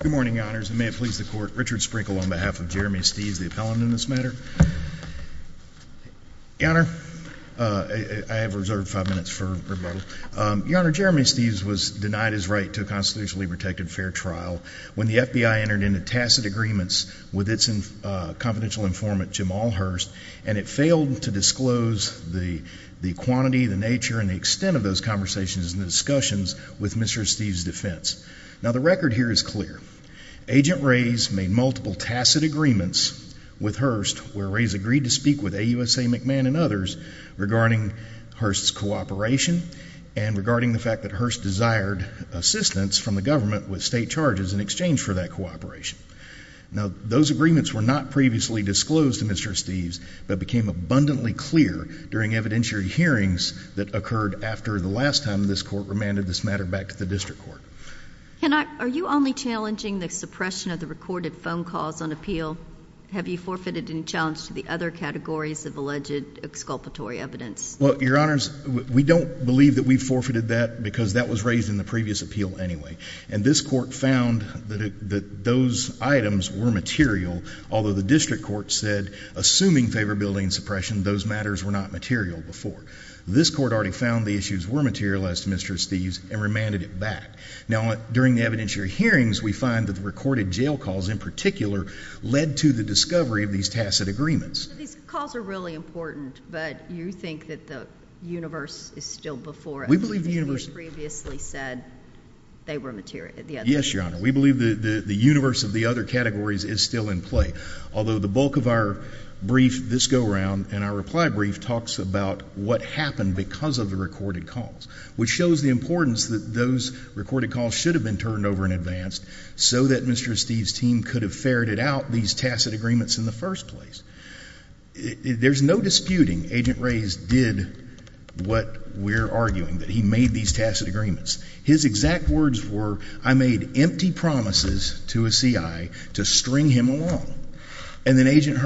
Good morning, Your Honors, and may it please the Court, Richard Sprinkle on behalf of Jeremy Esteves, the appellant in this matter. Your Honor, I have reserved five minutes for rebuttal. Your Honor, Jeremy Esteves was denied his right to a constitutionally protected fair trial when the FBI entered into tacit agreements with its confidential informant, Jamal Hurst, and it failed to disclose the quantity, the nature, and the extent of those conversations and discussions with Mr. Esteves' defense. Now the record here is clear. Agent Rays made multiple tacit agreements with Hurst where Rays agreed to speak with AUSA McMahon and others regarding Hurst's cooperation and regarding the fact that Hurst desired assistance from the government with state charges in exchange for that cooperation. Now those agreements were not previously disclosed to Mr. Esteves, but became abundantly clear during evidentiary hearings that occurred after the last time this Court remanded this matter back to the District Court. Can I, are you only challenging the suppression of the recorded phone calls on appeal? Have you forfeited any challenge to the other categories of alleged exculpatory evidence? Well, Your Honors, we don't believe that we forfeited that because that was raised in the previous appeal anyway, and this Court found that those items were material, although the District Court said, assuming favorability and suppression, those matters were not material before. This Court already found the issues were material as to Mr. Esteves' and remanded it back. Now during the evidentiary hearings, we find that the recorded jail calls in particular led to the discovery of these tacit agreements. So these calls are really important, but you think that the universe is still before us? We believe the universe— You previously said they were material, the other— Yes, Your Honor. We believe the universe of the other categories is still in play, although the bulk of our brief, this go-around, and our reply brief, talks about what happened because of the recorded calls, which shows the importance that those recorded calls should have been turned over in advance so that Mr. Esteves' team could have ferreted out these tacit agreements in the first place. There's no disputing Agent Reyes did what we're arguing, that he made these tacit agreements. His exact words were, I made empty promises to a C.I. to string him along. And then Agent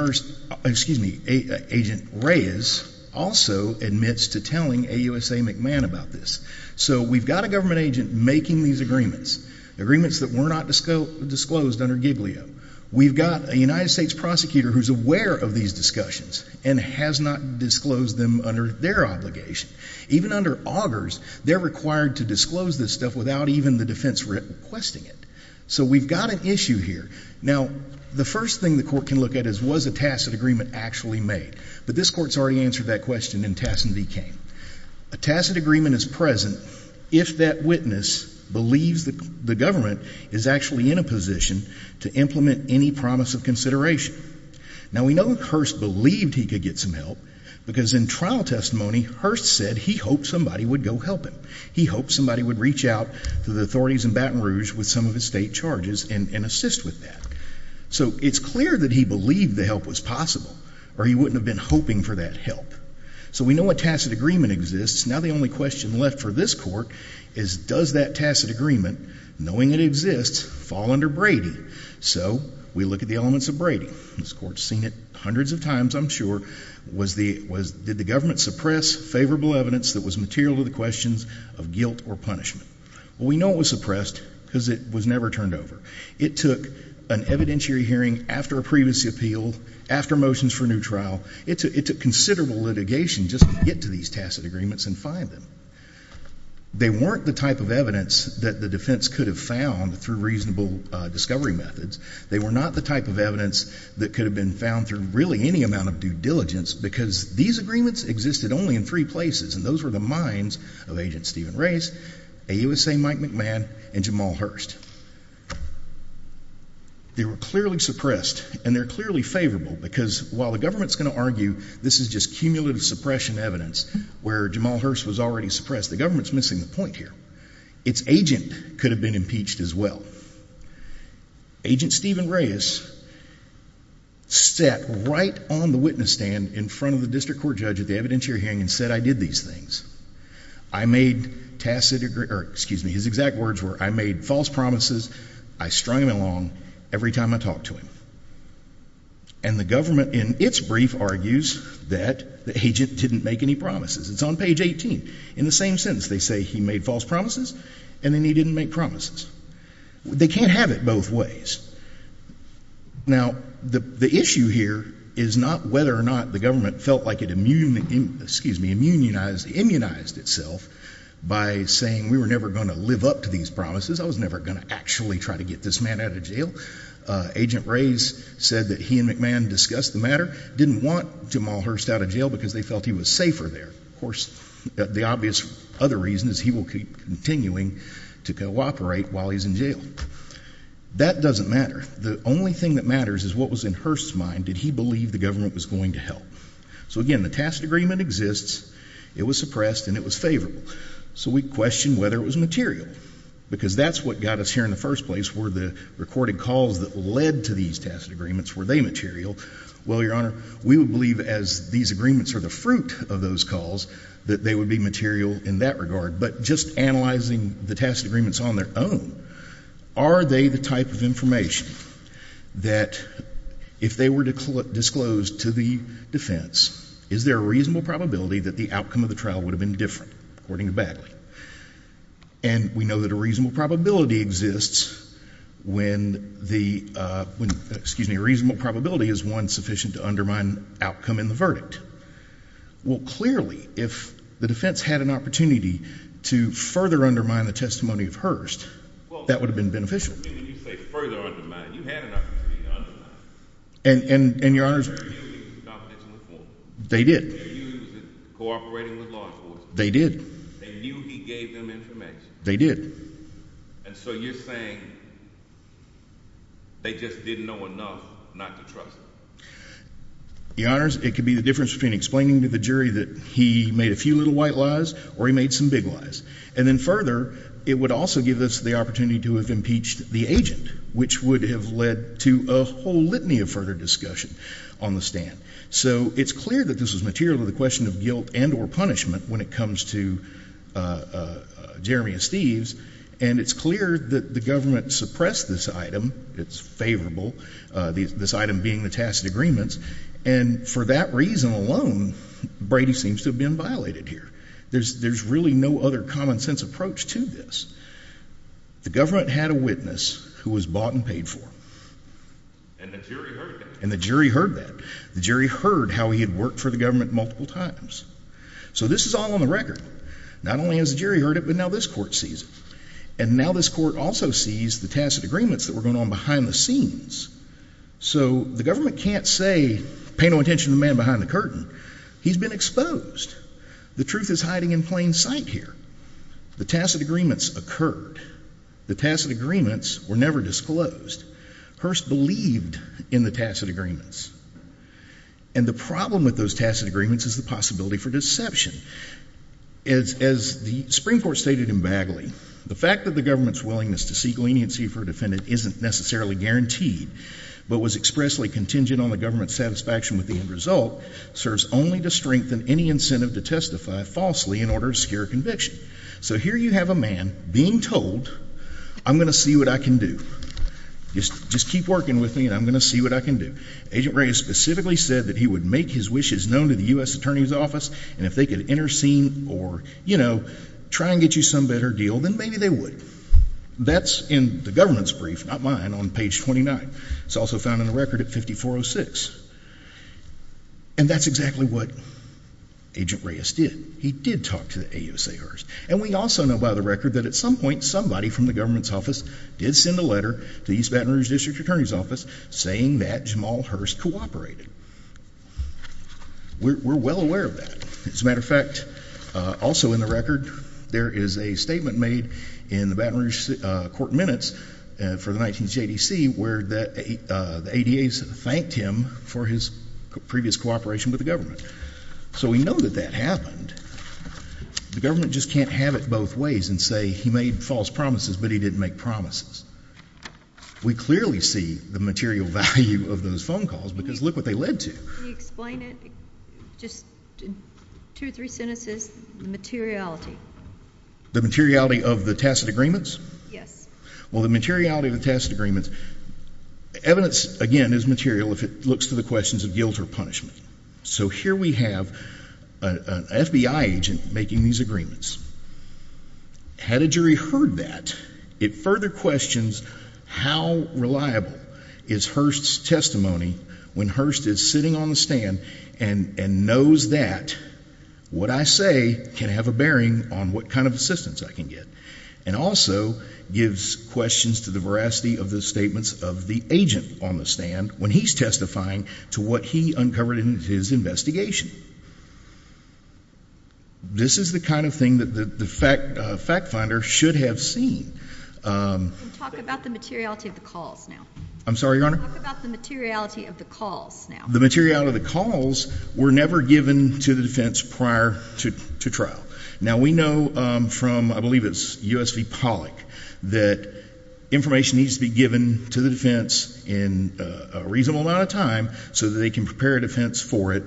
Reyes also admits to telling AUSA McMahon about this. So we've got a government agent making these agreements, agreements that were not disclosed under GIBLIO. We've got a United States prosecutor who's aware of these discussions and has not disclosed them under their obligation. Even under Augers, they're required to disclose this stuff without even the defense requesting it. So we've got an issue here. Now, the first thing the court can look at is, was a tacit agreement actually made? But this court's already answered that question in Tassin v. Kane. A tacit agreement is present if that witness believes that the government is actually in a position to implement any promise of consideration. Now, we know that Hearst believed he could get some help because in trial testimony, Hearst said he hoped somebody would go help him. He hoped somebody would reach out to the authorities in Baton Rouge with some of his state charges and assist with that. So it's clear that he believed the help was possible or he wouldn't have been hoping for that help. So we know a tacit agreement exists. Now the only question left for this court is, does that tacit agreement, knowing it exists, fall under Brady? So we look at the elements of Brady. This court's seen it hundreds of times, I'm sure. Did the government suppress favorable evidence that was material to the questions of guilt or punishment? Well, we know it was suppressed because it was never turned over. It took an evidentiary hearing after a previous appeal, after motions for a new trial. It took considerable litigation just to get to these tacit agreements and find them. They weren't the type of evidence that the defense could have found through reasonable discovery methods. They were not the type of evidence that could have been found through really any amount of due diligence because these agreements existed only in three places and those were the minds of Agent Stephen Reyes, AUSA Mike McMahon, and Jamal Hurst. They were clearly suppressed and they're clearly favorable because while the government's going to argue this is just cumulative suppression evidence where Jamal Hurst was already suppressed, the government's missing the point here. Its agent could have been impeached as well. Agent Stephen Reyes sat right on the witness stand in front of the district court judge at the evidentiary hearing and said, I did these things. I made tacit, excuse me, his exact words were, I made false promises. I strung him along every time I talked to him. And the government in its brief argues that the agent didn't make any promises. It's on page 18. In the same sentence, they say he made false promises and then he didn't make promises. They can't have it both ways. Now the issue here is not whether or not the government felt like it immunized itself by saying we were never going to live up to these promises. I was never going to actually try to get this man out of jail. Agent Reyes said that he and McMahon discussed the matter, didn't want Jamal Hurst out of jail because they felt he was safer there. Of course, the obvious other reason is he will keep continuing to cooperate while he's in jail. That doesn't matter. The only thing that matters is what was in Hurst's mind. Did he believe the government was going to help? So again, the tacit agreement exists. It was suppressed and it was favorable. So we questioned whether it was material because that's what got us here in the first place. Were the recorded calls that led to these tacit agreements, were they material? Well, Your Honor, we would believe as these agreements are the fruit of those calls that they would be material in that regard. But just analyzing the tacit agreements on their own, are they the type of information that if they were disclosed to the defense, is there a reasonable probability that the outcome of the trial would have been different, according to Bagley? And we know that a reasonable probability exists when the, excuse me, a reasonable probability is one sufficient to undermine outcome in the verdict. Well, clearly, if the defense had an opportunity to further undermine the testimony of Hurst, that would have been beneficial. What do you mean when you say further undermine? You had an opportunity to undermine it. And Your Honor, they did. They're used in cooperating with law enforcement. They did. They knew he gave them information. They did. And so you're saying they just didn't know enough not to trust him. Your Honor, it could be the difference between explaining to the jury that he made a few little white lies or he made some big lies. And then further, it would also give us the opportunity to have impeached the agent, which would have led to a whole litany of further discussion on the stand. So it's clear that this was material to the question of guilt and or punishment when it comes to Jeremy and Steve's. And it's clear that the government suppressed this item. It's favorable, this item being the tacit agreements. And for that reason alone, Brady seems to have been violated here. There's really no other common sense approach to this. The government had a witness who was bought and paid for. And the jury heard that. And the jury heard that. The jury heard how he had worked for the government multiple times. So this is all on the record. Not only has the jury heard it, but now this court sees it. And now this court also sees the tacit agreements that were going on behind the scenes. So the government can't say, pay no attention to the man behind the curtain. He's been exposed. The truth is hiding in plain sight here. The tacit agreements occurred. The tacit agreements were never disclosed. Hearst believed in the tacit agreements. And the problem with those tacit agreements is the possibility for deception. As the Supreme Court stated in Bagley, the fact that the government's willingness to seek leniency for a defendant isn't necessarily guaranteed, but was expressly contingent on the government's satisfaction with the end result, serves only to strengthen any incentive to testify falsely in order to scare conviction. So here you have a man being told, I'm going to see what I can do. Just keep working with me and I'm going to see what I can do. Agent Reyes specifically said that he would make his wishes known to the U.S. Attorney's Office, and if they could intercede or, you know, try and get you some better deal, then maybe they would. That's in the government's brief, not mine, on page 29. It's also found in the record at 5406. And that's exactly what Agent Reyes did. He did talk to the AUSA Hearst. And we also know by the record that at some point somebody from the government's office did send a letter to the East Baton Rouge District Attorney's Office saying that Jamal Hearst cooperated. We're well aware of that. As a matter of fact, also in the record, there is a statement made in the Baton Rouge Court Minutes for the 19th JDC where the ADAs thanked him for his previous cooperation with the government. So we know that that happened. The government just can't have it both ways and say he made false promises, but he didn't make promises. We clearly see the material value of those phone calls because look what they led to. Can you explain it, just two or three sentences, the materiality? The materiality of the tacit agreements? Yes. Well, the materiality of the tacit agreements, evidence, again, is material if it looks to the questions of guilt or punishment. So here we have an FBI agent making these agreements. Had a jury heard that, it further questions how reliable is Hearst's testimony when Hearst is sitting on the stand and knows that what I say can have a bearing on what kind of assistance I can get. And also gives questions to the veracity of the statements of the agent on the stand when he's testifying to what he uncovered in his investigation. This is the kind of thing that the fact finder should have seen. Talk about the materiality of the calls now. I'm sorry, Your Honor? Talk about the materiality of the calls now. The materiality of the calls were never given to the defense prior to trial. Now, we know from, I believe it's U.S. v. Pollack, that information needs to be given to the defense in a reasonable amount of time so that they can prepare defense for it.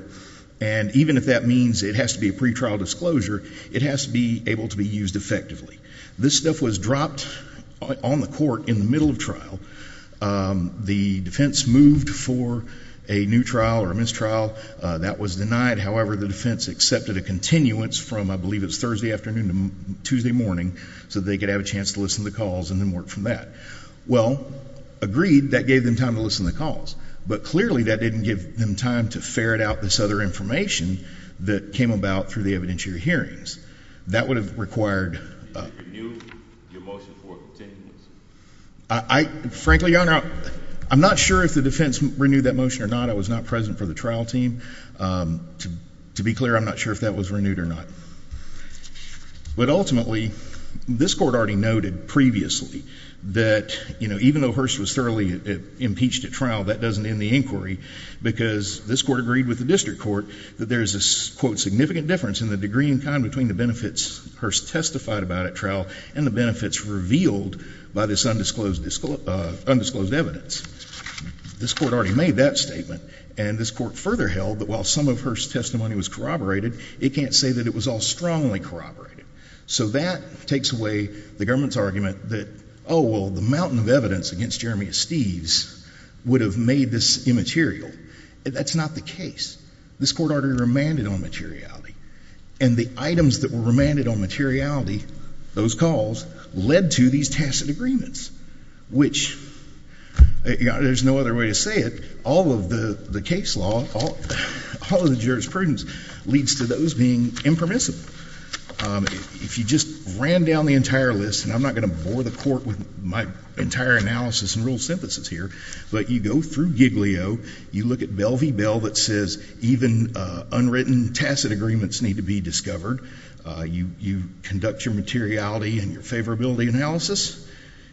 And even if that means it has to be a pretrial disclosure, it has to be able to be used effectively. This stuff was dropped on the court in the middle of trial. The defense moved for a new trial or mistrial. That was denied. However, the defense accepted a continuance from, I believe it was Thursday afternoon to Tuesday morning, so they could have a chance to listen to the calls and then work from that. Well, agreed, that gave them time to listen to the calls. But clearly that didn't give them time to ferret out this other information that came about through the evidentiary hearings. That would have required... Did you renew your motion for a continuance? Frankly, Your Honor, I'm not sure if the defense renewed that motion or not. I was not present for the trial team. To be clear, I'm not sure if that was renewed or not. But ultimately, this court already noted previously that even though Hearst was thoroughly impeached at trial, that doesn't end the inquiry, because this court agreed with the district court that there is a significant difference in the degree and kind between the benefits Hearst testified about at trial and the benefits revealed by this undisclosed evidence. This court already made that statement, and this court further held that while some of Hearst's testimony was corroborated, it can't say that it was all strongly corroborated. So that takes away the government's argument that, oh, well, the mountain of evidence against Jeremiah Steeves would have made this immaterial. That's not the case. This court already remanded on materiality. And the items that were remanded on materiality, those calls, led to these tacit agreements, which... There's no other way to say it. All of the case law, all of the jurisprudence leads to those being impermissible. If you just ran down the entire list, and I'm not going to bore the court with my entire analysis and rule synthesis here, but you go through Giglio, you look at Bell v. Bell that says even unwritten tacit agreements need to be discovered, you conduct your materiality and your favorability analysis,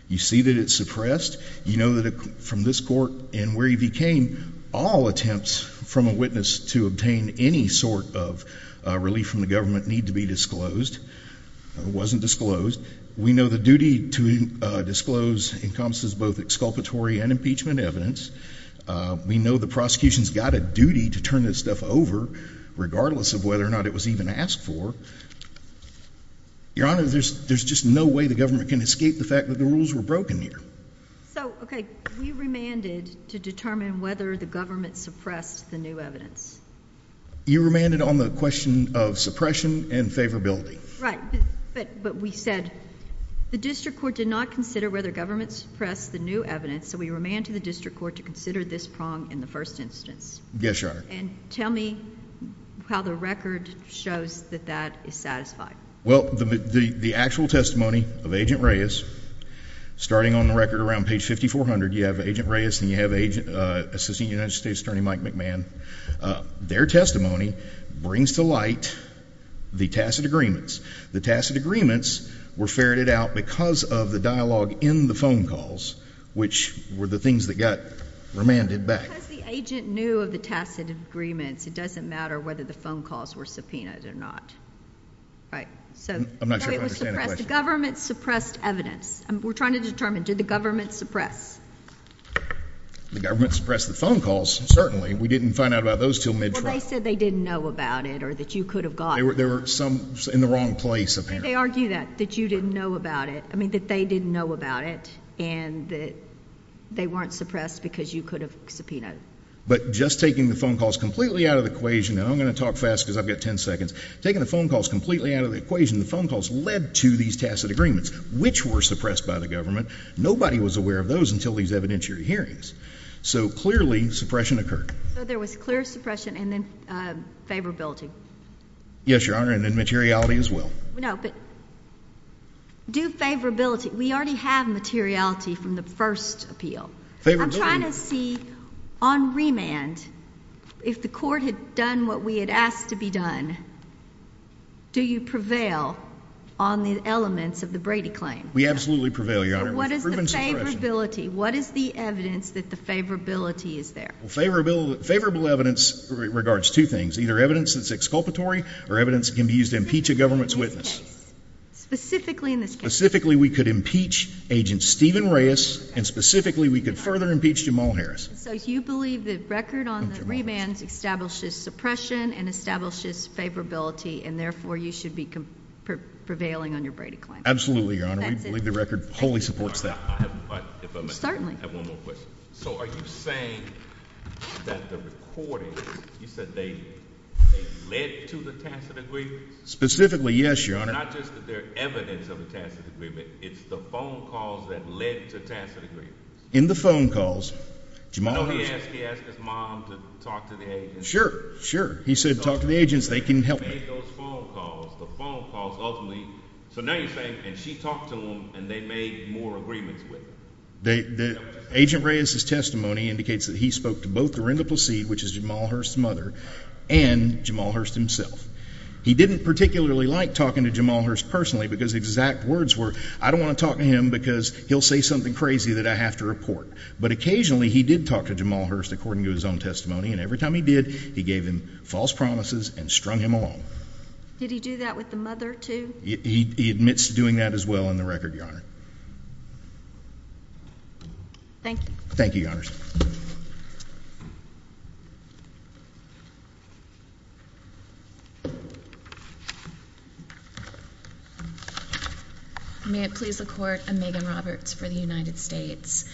you see that it's suppressed, you know that from this court and where he became, all attempts from a witness to obtain any sort of relief from the government need to be disclosed. It wasn't disclosed. We know the duty to disclose encompasses both exculpatory and impeachment evidence. We know the prosecution's got a duty to turn this stuff over, regardless of whether or not it was even asked for. Your Honor, there's just no way the government can escape the fact that the rules were broken here. So, okay, we remanded to determine whether the government suppressed the new evidence. You remanded on the question of suppression and favorability. Right, but we said the district court did not consider whether government suppressed the new evidence, so we remanded the district court to consider this prong in the first instance. Yes, Your Honor. And tell me how the record shows that that is satisfied. Well, the actual testimony of Agent Reyes, starting on the record around page 5400, you have Agent Reyes and you have Assistant United States Attorney Mike McMahon. Their testimony brings to light the tacit agreements. The tacit agreements were ferreted out because of the dialogue in the phone calls, which were the things that got remanded back. Because the agent knew of the tacit agreements, it doesn't matter whether the phone calls were subpoenaed or not. I'm not sure I understand the question. The government suppressed evidence. We're trying to determine, did the government suppress? The government suppressed the phone calls, certainly. We didn't find out about those until mid-trial. Well, they said they didn't know about it or that you could have gotten them. There were some in the wrong place, apparently. They argue that, that you didn't know about it. I mean, that they didn't know about it and that they weren't suppressed because you could have subpoenaed them. But just taking the phone calls completely out of the equation and I'm going to talk fast because I've got ten seconds Taking the phone calls completely out of the equation the phone calls led to these tacit agreements which were suppressed by the government. Nobody was aware of those until these evidentiary hearings. So, clearly, suppression occurred. So there was clear suppression and then favorability. Yes, Your Honor. And then materiality as well. No, but do favorability. We already have materiality from the first appeal. I'm trying to see on remand if the court had done what we had asked to be done do you prevail on the elements of the Brady claim? We absolutely prevail, Your Honor. What is the favorability? What is the evidence that the favorability is there? Favorable evidence regards two things. Either evidence that's exculpatory or evidence that can be used to impeach a government's witness. Specifically in this case? Specifically we could impeach agent Stephen Reyes and specifically we could further impeach Jamal Harris. So you believe the record on the remand establishes suppression and establishes favorability and therefore you should be prevailing on your Brady claim? Absolutely, Your Honor. We believe the record wholly supports that. Certainly. So are you saying that the recordings you said they led to the tacit agreement? Specifically, yes, Your Honor. It's not just that they're evidence of a tacit agreement it's the phone calls that led to tacit agreement. In the phone calls, Jamal Harris I know he asked his mom to talk to the agents Sure, sure. He said talk to the agents they can help him. So now you're saying she talked to them and they made more agreements with them. Agent Reyes' testimony indicates that he spoke to both Orinda Placide which is Jamal Harris' mother and Jamal Harris himself. He didn't particularly like talking to Jamal Harris personally because exact words were I don't want to talk to him because he'll say something crazy that I have to report. But occasionally he did talk to Jamal Harris according to his own testimony and every time he did he gave him false promises and strung him along. Did he do that with the mother too? He admits to doing that as well in the record, Your Honor. Thank you. Thank you, Your Honor. May it please the court I'm Megan Roberts for the United States.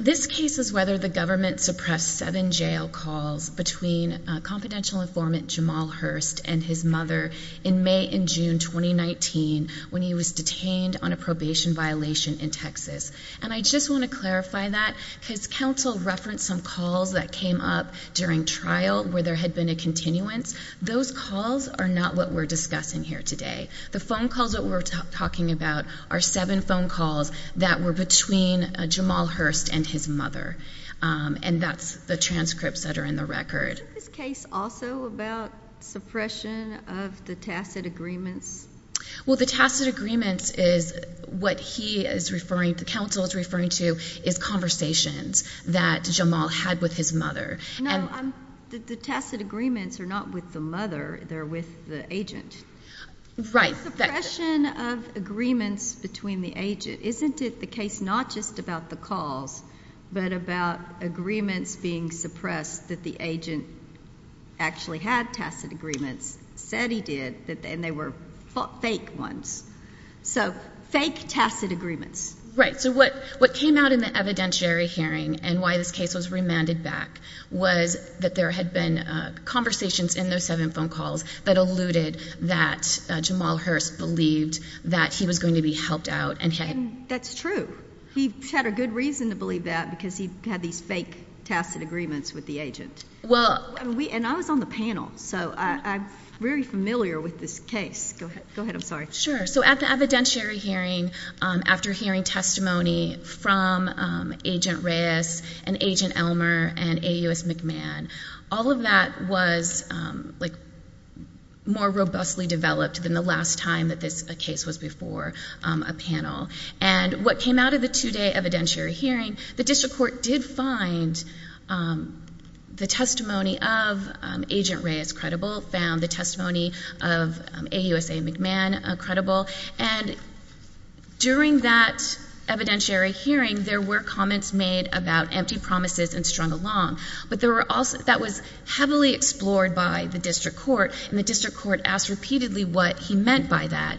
This case is whether the government suppressed seven jail calls between confidential informant Jamal Hearst and his mother in May and June 2019 when he was detained on a probation violation in Texas. And I just want to clarify that because counsel referenced some calls that came up during trial where there had been a continuance. Those calls are not what we're discussing here today. The phone calls that we're talking about are seven phone calls that were between Jamal Hearst and his mother. And that's the transcripts that are in the record. Is this case also about suppression of the tacit agreements? Well the tacit agreements is what he is referring the counsel is referring to is conversations that Jamal had with his mother. No, the tacit agreements are not with the mother they're with the agent. The suppression of agreements between the agent, isn't it the case not just about the calls but about agreements being suppressed that the agent actually had tacit agreements, said he did and they were fake ones. So, fake tacit agreements. Right, so what came out in the evidentiary hearing and why this case was remanded back was that there had been conversations in those seven phone calls that alluded that Jamal Hearst believed that he was going to be helped out. And that's true. He had a good reason to believe that because he had these fake tacit agreements with the agent. And I was on the panel so I'm very familiar with this case. Go ahead, I'm sorry. Sure, so at the evidentiary hearing after hearing testimony from Agent Reyes and Agent Elmer and AUS McMahon, all of that was more robustly developed than the last time that this case was before a panel. And what came out of the two-day evidentiary hearing, the district court did find the testimony of Agent Reyes credible, found the testimony of AUSA McMahon credible, and during that evidentiary hearing, there were comments made about empty promises and strung along. But that was heavily explored by the district court and the district court asked repeatedly what he meant by that.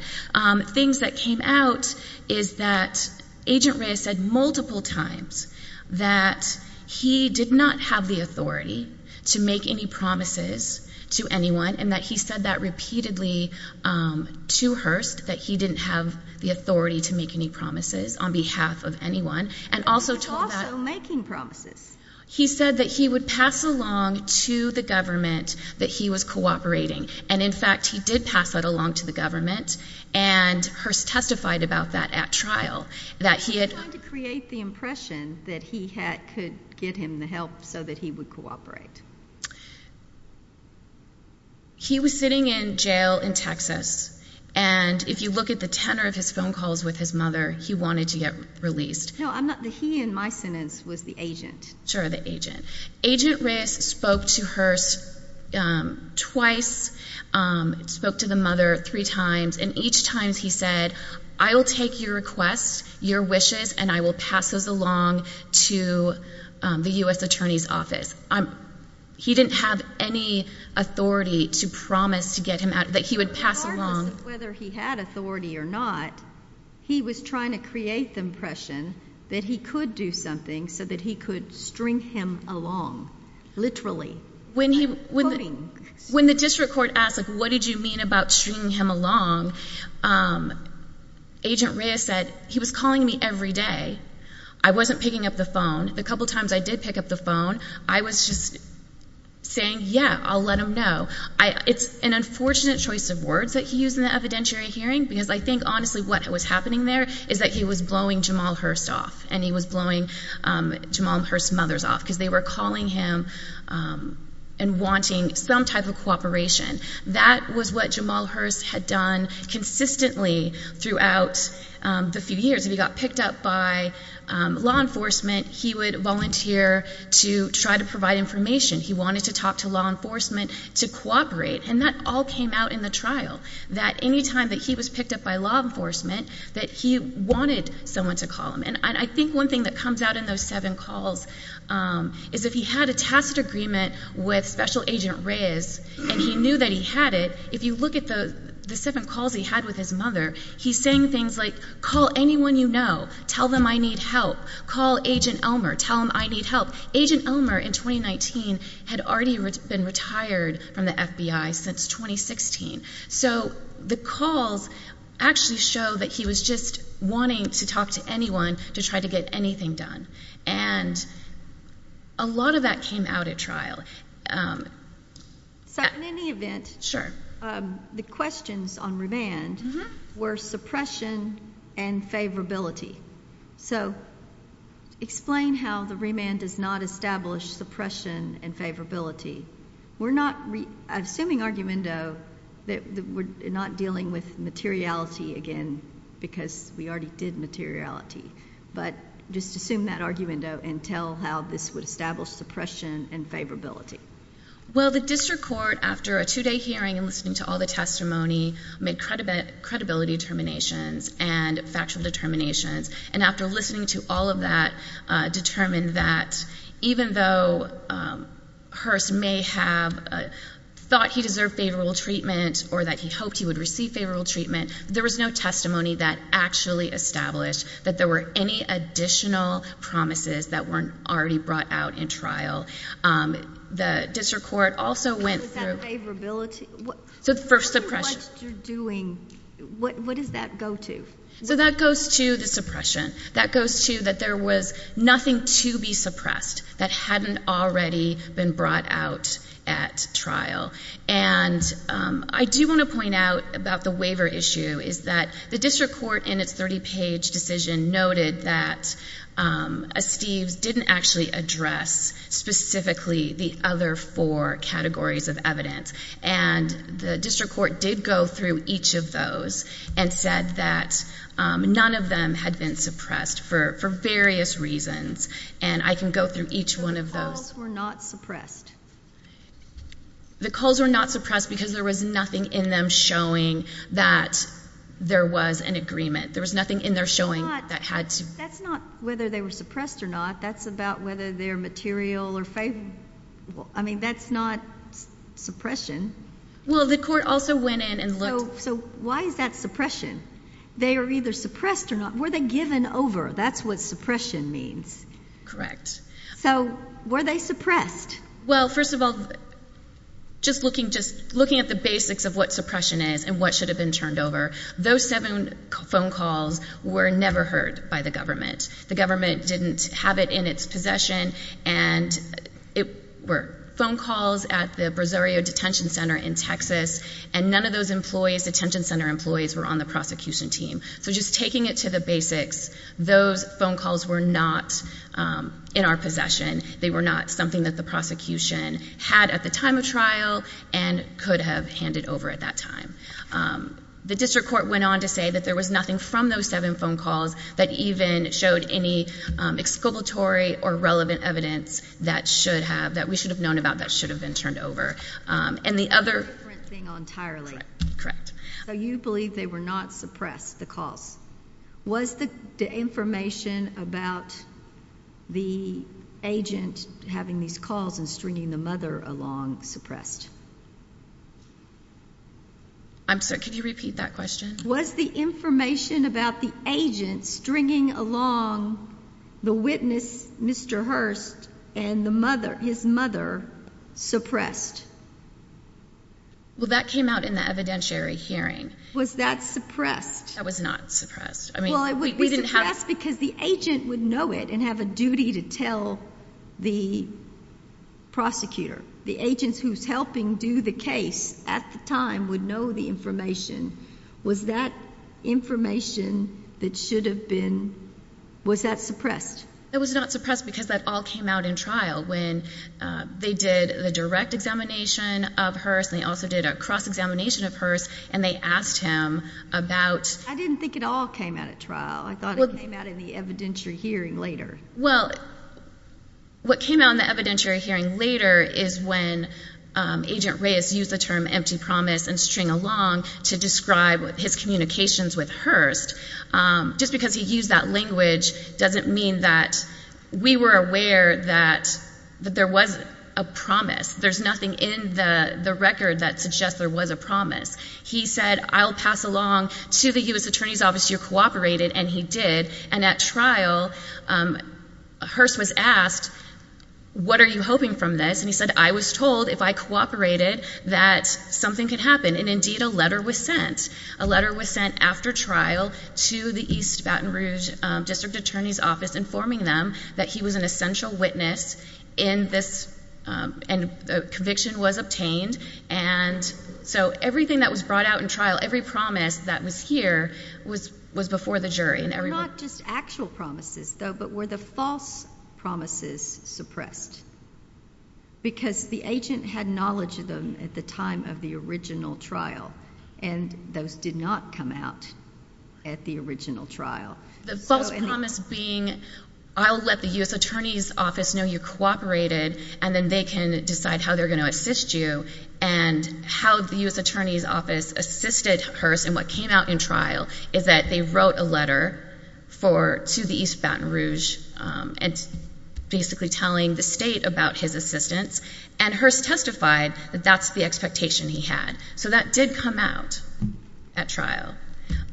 Things that came out is that Agent Reyes said multiple times that he did not have the authority to make any promises to anyone and that he said that repeatedly to Hearst that he didn't have the authority to make any promises on behalf of anyone and also told that... He was also making promises. He said that he would pass along to the government that he was cooperating and in fact he did pass that along to the government and Hearst testified about that at trial that he had... He was trying to create the impression that he could get him the help so that he would cooperate. He was sitting in jail in Texas and if you look at the tenor of his phone calls with his mother he wanted to get released. He in my sentence was the agent. Sure, the agent. Agent Reyes spoke to Hearst twice spoke to the mother three times and each time he said I'll take your request, your wishes and I will pass those along to the US Attorney's Office. He didn't have any authority to promise to get him out that he would pass along. Whether he had authority or not he was trying to create the impression that he could do something so that he could string him along literally. When the district court asked what did you mean about stringing him along Agent Reyes said he was calling me every day. I wasn't picking up the phone. A couple times I did pick up the phone I was just saying yeah, I'll let him know. It's an unfortunate choice of words that he used in the evidentiary hearing because I think honestly what was happening there is that he was blowing Jamal Hearst off and he was blowing Jamal Hearst's mother off because they were calling him and wanting some type of cooperation. That was what Jamal Hearst had done consistently throughout the few years he got picked up by law enforcement. He would volunteer to try to provide information he wanted to talk to law enforcement to cooperate and that all came out in the trial that any time he was picked up by law enforcement he wanted someone to call him and I think one thing that comes out in those seven calls is if he had a tacit agreement with Special Agent Reyes and he knew that he had it, if you look at the seven calls he had with his mother he's saying things like call anyone you know, tell them I need help call Agent Elmer, tell them I need help Agent Elmer in 2019 had already been retired from the FBI since 2016 so the calls actually show that he was just wanting to talk to anyone to try to get anything done and a lot of that came out at trial So in any event the questions on remand were suppression and favorability so explain how the remand does not establish suppression and favorability we're not assuming argumento that we're not dealing with materiality again because we already did materiality but just assume that argumento and tell how this would establish suppression and favorability Well the district court after a two day hearing and listening to all the testimony made credibility determinations and factual determinations and after listening to all of that determined that even though Hearst may have thought he deserved favorable treatment or that he hoped he would receive favorable treatment there was no testimony that actually established that there were any additional promises that weren't already brought out in trial the district court also went through so for suppression What is that go to? That goes to the suppression that there was nothing to be suppressed that hadn't already been brought out at trial and I do want to point out about the waiver issue is that the district court in its 30 page decision noted that Steeves didn't actually address specifically the other four categories of evidence and the district court did go through each of those and said that none of them had been suppressed for various reasons and I can go through each one of those So the calls were not suppressed The calls were not suppressed because there was nothing in them showing that there was an agreement. There was nothing in there showing That's not whether they were suppressed or not. That's about whether they're material or favorable I mean that's not suppression So why is that suppression? They are either suppressed or not. Were they given over? That's what suppression means So were they suppressed? Just looking at the basics of what suppression is and what should have been turned over Those seven phone calls were never heard by the government The government didn't have it in its possession and it were phone calls at the Brazorio detention center in Texas and none of those employees, detention center employees were on the prosecution team So just taking it to the basics those phone calls were not in our possession They were not something that the prosecution had at the time of trial and could have handed over at that time The district court went on to say that there was nothing from those seven phone calls that even showed any excavatory or relevant evidence that should have, that we should have known about that should have been turned over And the other So you believe they were not suppressed, the calls Was the information about the agent having these calls and stringing the mother along suppressed? I'm sorry, could you repeat that question? Was the information about the agent stringing the witness Mr. Hearst and his mother suppressed? Well that came out in the evidentiary hearing. Was that suppressed? That was not suppressed Well it would be suppressed because the agent would know it and have a duty to tell the prosecutor. The agents who's helping do the case at the time would know the information Was that information that should have been Was that suppressed? It was not suppressed because that all came out in trial when they did the direct examination of Hearst and they also did a cross examination of Hearst and they asked him about I didn't think it all came out at trial I thought it came out in the evidentiary hearing later. Well what came out in the evidentiary hearing later is when Agent Reyes used the term empty promise and string along to describe his communications with Hearst just because he used that language doesn't mean that we were aware that there was a promise there's nothing in the record that suggests there was a promise He said I'll pass along to the U.S. Attorney's Office you cooperated and he did and at trial Hearst was asked what are you hoping from this and he said I was told if I cooperated that something could happen and indeed a letter was sent a letter was sent after trial to the East Baton Rouge District Attorney's Office informing them that he was an essential witness in this conviction was obtained and so everything that was brought out in trial, every promise that was here was before the jury Not just actual promises though but were the false promises suppressed because the agent had knowledge of them at the time of the original trial and those did not come out at the original trial. The false promise being I'll let the U.S. Attorney's Office know you cooperated and then they can decide how they're going to assist you and how the U.S. Attorney's Office assisted Hearst in what came out in trial is that they wrote a letter to the East Baton Rouge basically telling the state about his assistance and Hearst testified that that's the expectation he had so that did come out at trial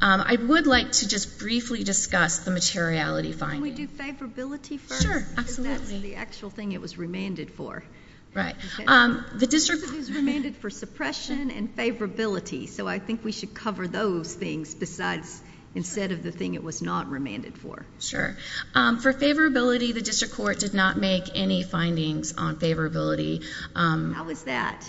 I would like to just briefly discuss the materiality finding. Can we do favorability first? Sure, absolutely. Because that's the actual thing it was remanded for. Right. It was remanded for suppression and favorability so I think we should cover those things besides instead of the thing it was not remanded for. Sure. For favorability the district court did not make any findings on favorability How is that?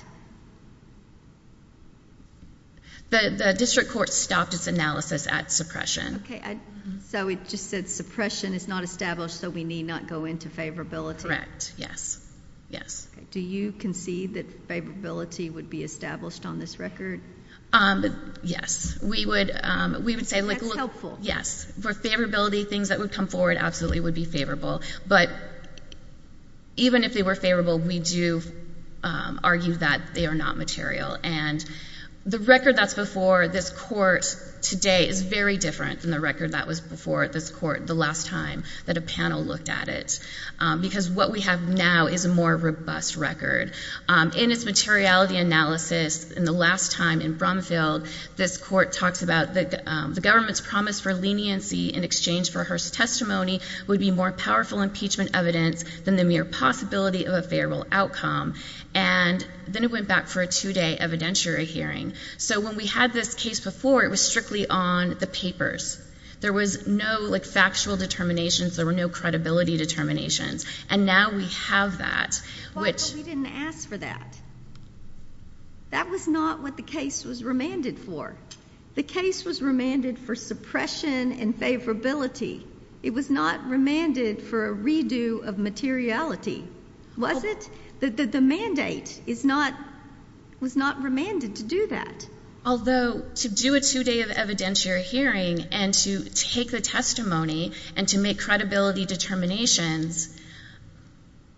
The district court stopped its analysis at suppression So it just said suppression is not established so we need not go into favorability? Correct. Yes. Do you concede that favorability would be established on this record? Yes. We would say That's helpful. Yes. For favorability things that would come forward absolutely would be favorable but even if they were favorable we do argue that they are not material and the record that's before this court today is very different than the record that was before this court the last time that a panel looked at it because what we have now is a more robust record. In its materiality analysis in the last time in Brumfield this court talks about the government's promise for leniency in exchange for testimony would be more powerful impeachment evidence than the mere possibility of a favorable outcome and then it went back for a two day evidentiary hearing. So when we had this case before it was strictly on the papers. There was no factual determinations there were no credibility determinations and now we have that But we didn't ask for that That was not what the case was remanded for The case was remanded for suppression and favorability. It was not remanded for a redo of materiality. Was it? The mandate was not remanded to do that. Although to do a two day of evidentiary hearing and to take the testimony and to make credibility determinations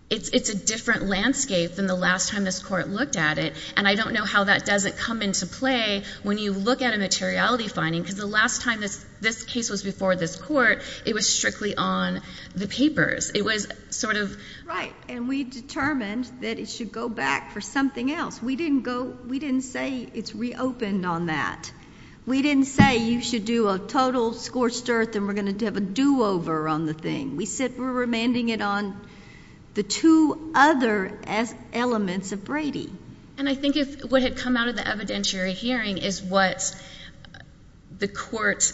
it's a different landscape than the last time this court looked at it and I don't know how that doesn't come into play when you look at a materiality because the last time this case was before this court it was strictly on the papers. It was sort of Right. And we determined that it should go back for something else. We didn't say it's reopened on that We didn't say you should do a total scorched earth and we're going to have a do over on the thing. We said we're remanding it on the two other elements of Brady. And I think what had come out of the evidentiary hearing is what the court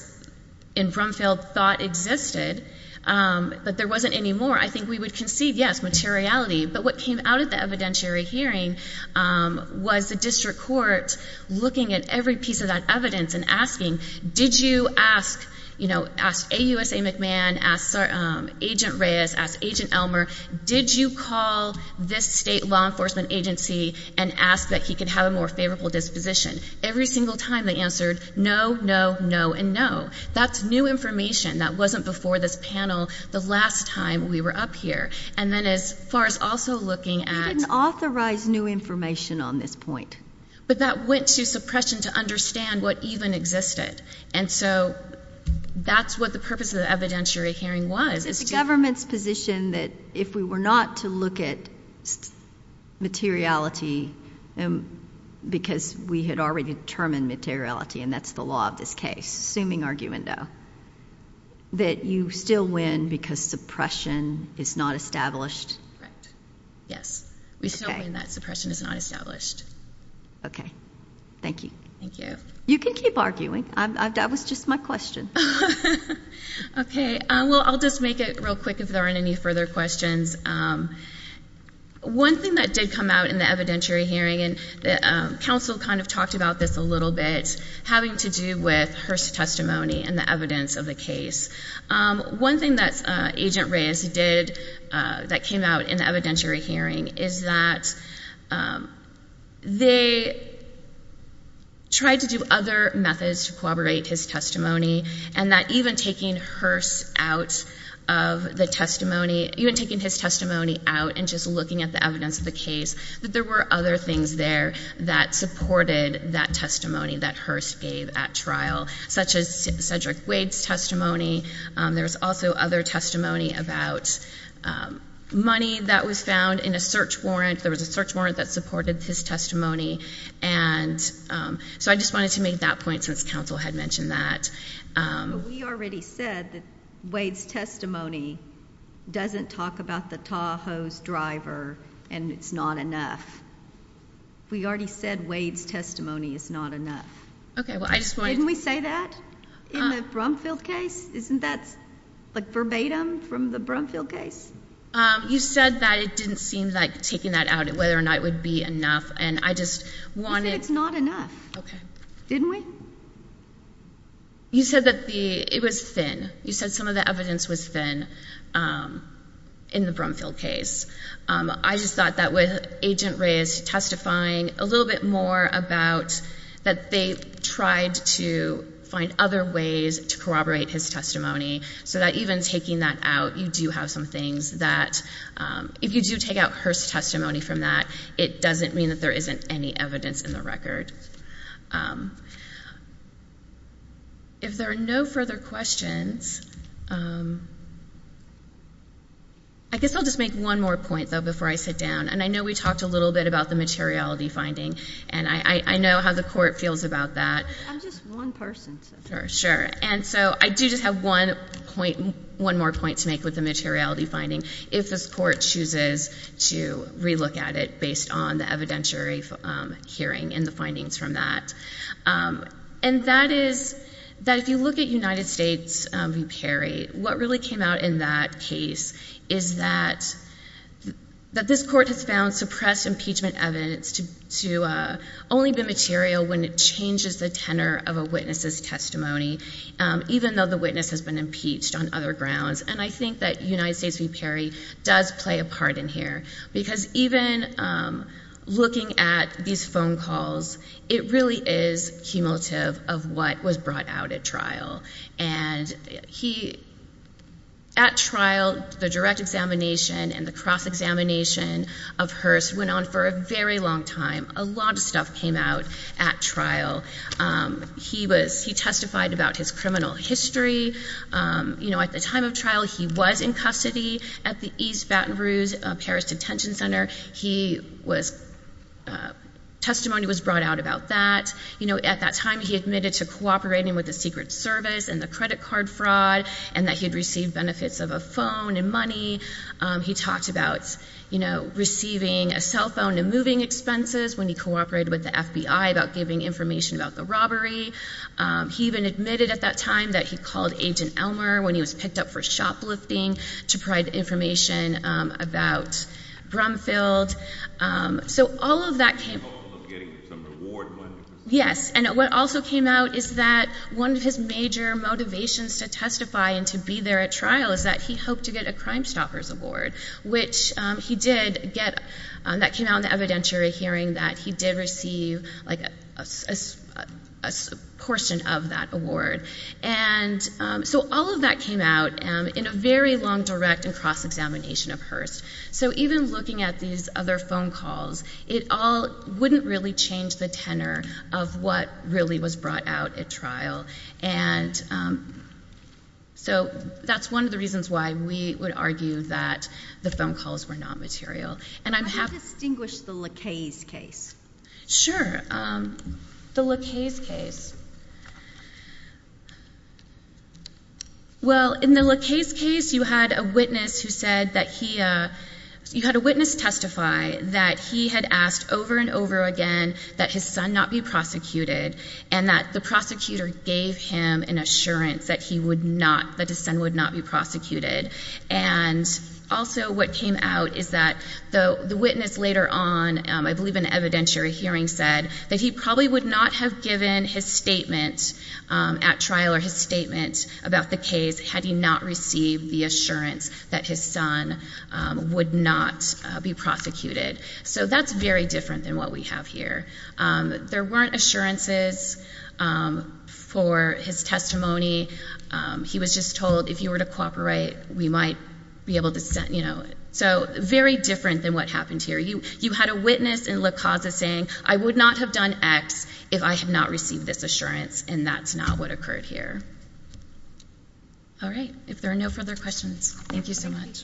in Brumfield thought existed but there wasn't anymore. I think we would concede yes, materiality. But what came out of the evidentiary hearing was the district court looking at every piece of that evidence and asking, did you ask you know, ask AUSA McMahon ask Agent Reyes ask Agent Elmer, did you call this state law enforcement agency and ask that he could have a more favorable disposition. Every single time they answered no, no, no and no. That's new information that wasn't before this panel the last time we were up here. And then as far as also looking at We didn't authorize new information on this point. But that went to suppression to understand what even existed. And so that's what the purpose of the evidentiary hearing was. It's the government's position that if we were not to look at materiality because we had already determined materiality and that's the law of this case, assuming argument though, that you still win because suppression is not established? Yes. We still win that suppression is not established. Okay. Thank you. Thank you. You can keep arguing. That was just my question. Okay. Well I'll just make it real quick if there aren't any further questions. One thing that did come out in the evidentiary hearing and counsel kind of talked about this a little bit having to do with Hearst's testimony and the evidence of the case. One thing that Agent Reyes did that came out in the evidentiary hearing is that they tried to do other methods to corroborate his testimony and that even taking Hearst out of the testimony out and just looking at the evidence of the case that there were other things there that supported that testimony that Hearst gave at trial such as Cedric Wade's testimony. There was also other testimony about money that was found in a search warrant. There was a search warrant that supported his testimony and so I just wanted to make that point since counsel had mentioned that. We already said that Wade's testimony doesn't talk about the Tahoe's driver and it's not enough. We already said Wade's testimony is not enough. Didn't we say that in the Brumfield case? Isn't that verbatim from the Brumfield case? You said that it didn't seem like taking that out and whether or not it would be enough and I just wanted... You said it's not enough. Didn't we? You said that it was thin. You said some of the evidence was thin in the Brumfield case. I just thought that with Agent Reyes testifying a little bit more about that they tried to find other ways to corroborate his testimony so that even taking that out you do have some things that if you do take out Hearst's testimony from that it doesn't mean that there isn't any evidence in the record. If there are no further questions I guess I'll just make one more point though before I sit down and I know we talked a little bit about the materiality finding and I know how the court feels about that. I'm just one person. Sure. And so I do just have one more point to make with the materiality finding. If this court chooses to relook at it based on the evidentiary hearing and the finding from that and that is that if you look at United States v. Perry what really came out in that case is that this court has found suppressed impeachment evidence to only be material when it changes the tenor of a witness's testimony even though the witness has been impeached on other grounds and I think that United States v. Perry does play a part in here because even looking at these phone calls it really is cumulative of what was brought out at trial and he at trial the direct examination and the cross-examination of Hearst went on for a very long time. A lot of stuff came out at trial. He testified about his criminal history at the time of trial he was in custody at the East Baton Rouge Paris Detention Center he was testimony was brought out about that at that time he admitted to cooperating with the Secret Service and the credit card fraud and that he had received benefits of a phone and money he talked about receiving a cell phone and moving expenses when he cooperated with the FBI about giving information about the robbery he even admitted at that time that he called Agent Elmer when he was picked up for shoplifting to provide information about Brumfield so all of that came out yes and what also came out is that one of his major motivations to testify and to be there at trial is that he hoped to get a Crime Stoppers award which he did get that came out in the evidentiary hearing that he did receive like a portion of that award and so all of that came out in a very long direct and cross-examination of Hurst so even looking at these other phone calls it all wouldn't really change the tenor of what really was brought out at trial and so that's one of the reasons why we would argue that the phone calls were not material and I'm happy... How do you distinguish the Lacaze case? Sure the Lacaze case well in the Lacaze case you had a witness who said that he you had a witness testify that he had asked over and over again that his son not be prosecuted and that the prosecutor gave him an assurance that he would not, that his son would not be prosecuted and also what came out is that the witness later on I believe in an evidentiary hearing said that he probably would not have given his statement at trial or his statement about the case had he not received the assurance that his son would not be prosecuted so that's very different than what we have here there weren't assurances for his testimony he was just told if you were to cooperate we might be able to send you know so very different than what happened here. You had a witness in Lacaze saying I would not have done X if I had not received this assurance and that's not what occurred here alright if there are no further questions thank you so much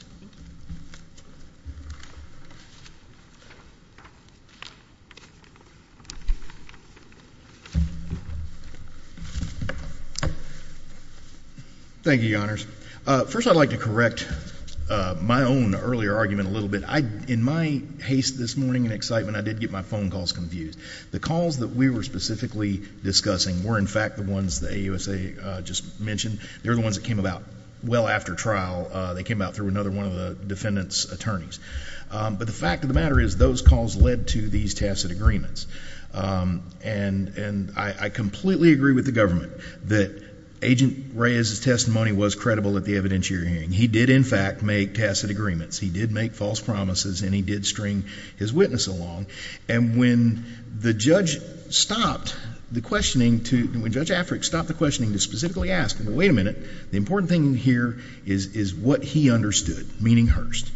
thank you your honors first I'd like to correct my own earlier argument a little bit in my haste this morning and excitement I did get my phone calls confused the calls that we were specifically discussing were in fact the ones that AUSA just mentioned they were the ones that came about well after trial they came out through another one of the defendants attorneys but the fact of the matter is those calls led to these tacit agreements and I completely agree with the government that agent Reyes testimony was credible at the evidentiary hearing he did in fact make tacit agreements he did make false promises and he did string his case along and when the judge stopped the questioning to when judge Afric stopped the questioning to specifically ask wait a minute the important thing here is what he understood meaning Hurst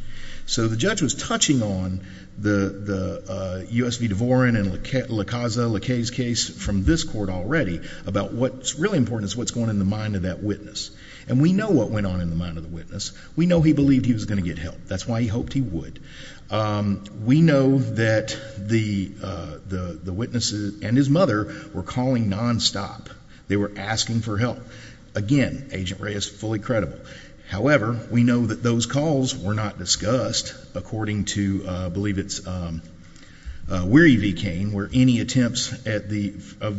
so the judge was touching on the USV Devorin and Lacaze case from this court already about what's really important is what's going on in the mind of that witness and we know what went on in the mind of the witness we know he believed he was going to get help that's why he hoped he would we know that the witnesses and his mother were calling non-stop they were asking for help again agent Reyes fully credible however we know that those calls were not discussed according to I believe it's Weary V. Cain where any attempts of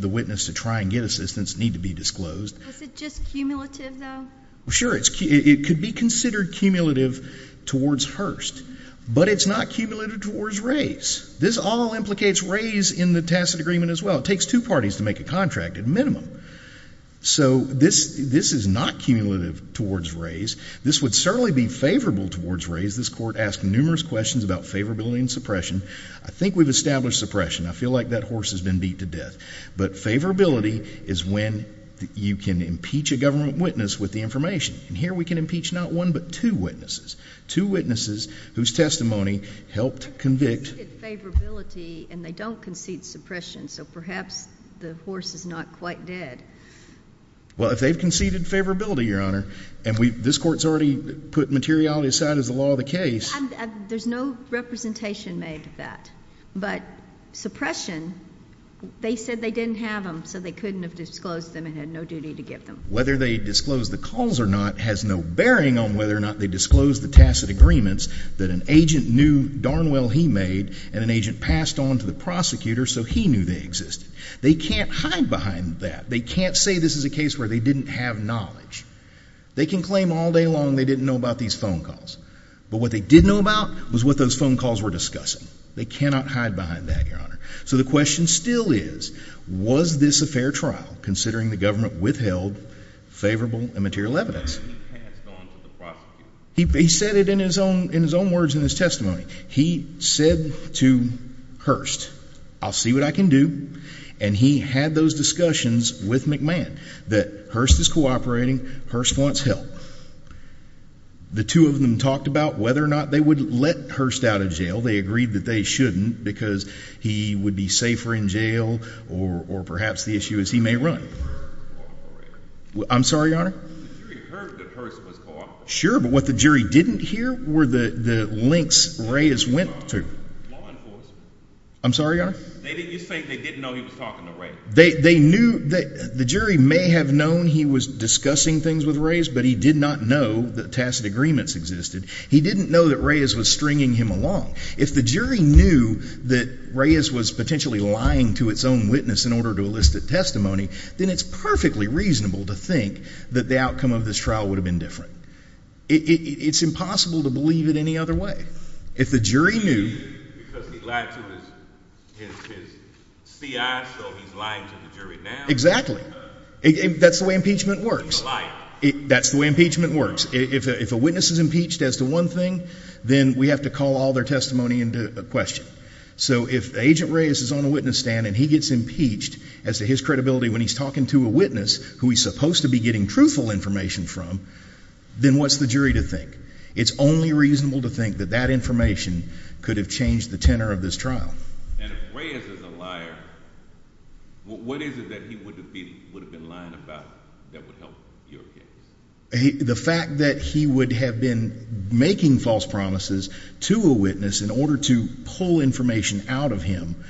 the witness to try and get assistance need to be disclosed is it just cumulative though? it could be considered cumulative towards Hurst but it's not cumulative towards Reyes this all implicates Reyes in the tacit agreement as well it takes two parties to make a contract at minimum so this is not cumulative towards Reyes this would certainly be favorable towards Reyes this court asked numerous questions about favorability and suppression I think we've established suppression I feel like that horse has been beat to death but favorability is when you can impeach a government witness with the information and here we can impeach not one but two witnesses two witnesses whose testimony helped convict favorability and they don't concede suppression so perhaps the horse is not quite dead well if they've conceded favorability your honor and this court's already put materiality aside as the law of the case there's no representation made of that but suppression they said they didn't have them so they couldn't have disclosed them and had no duty to give them whether they disclosed the calls or not has no bearing on whether or not they disclosed the tacit agreements that an agent knew darn well he made and an agent passed on to the prosecutor so he knew they existed they can't hide behind that they can't say this is a case where they didn't have knowledge they can claim all day long they didn't know about these phone calls but what they did know about was what those phone calls were discussing they cannot hide behind that your honor so the question still is was this a fair trial considering the government withheld favorable and material evidence he said it in his own words in his testimony he said to Hurst I'll see what I can do and he had those discussions with McMahon that Hurst is cooperating Hurst wants help the two of them talked about whether or not they would let Hurst out of jail they agreed that they shouldn't because he would be safer in jail or perhaps the issue is he may run I'm sorry your honor sure but what the jury didn't hear were the links Reyes went to I'm sorry your honor you think they didn't know he was talking to Reyes they knew the jury may have known he was discussing things with Reyes but he did not know tacit agreements existed he didn't know that Reyes was stringing him along if the jury knew that Reyes was potentially lying to its own witness in order to elicit testimony then it's perfectly reasonable to think that the outcome of this trial would have been different it's impossible to believe it any other way if the jury knew because he lied to his C.I. so he's lying to the jury now exactly that's the way impeachment works that's the way impeachment works if a witness is impeached as to one thing then we have to call all their testimony into question so if agent Reyes is on a witness stand and he gets impeached as to his credibility when he's talking to a witness who he's supposed to be getting truthful information from then what's the jury to think it's only reasonable to think that that information could have changed the tenor of this trial and if Reyes is a liar what is it that he would have been lying about that would help your case the fact that he would have been making false promises to a witness in order to pull information out of him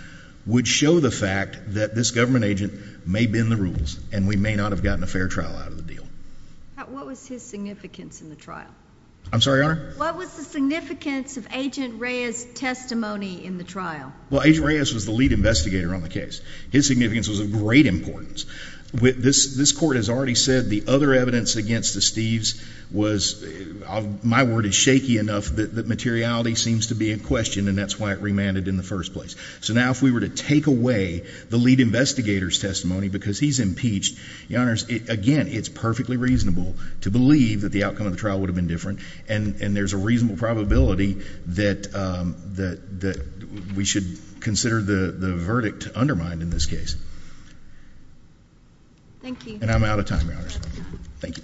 would show the fact that this government agent may bend the rules and we may not have gotten a fair trial out of the deal what was his significance in the trial I'm sorry your honor what was the significance of agent Reyes testimony in the trial agent Reyes was the lead investigator on the case his significance was of great importance this court has already said the other evidence against the Steves was my word is shaky enough that materiality seems to be in question and that's why it remanded in the first place so now if we were to take away the lead investigators testimony because he's impeached again it's perfectly reasonable to believe that the outcome of the trial would have been different and there's a reasonable probability that we should consider the verdict to undermine in this case thank you and I'm out of time your honor thank you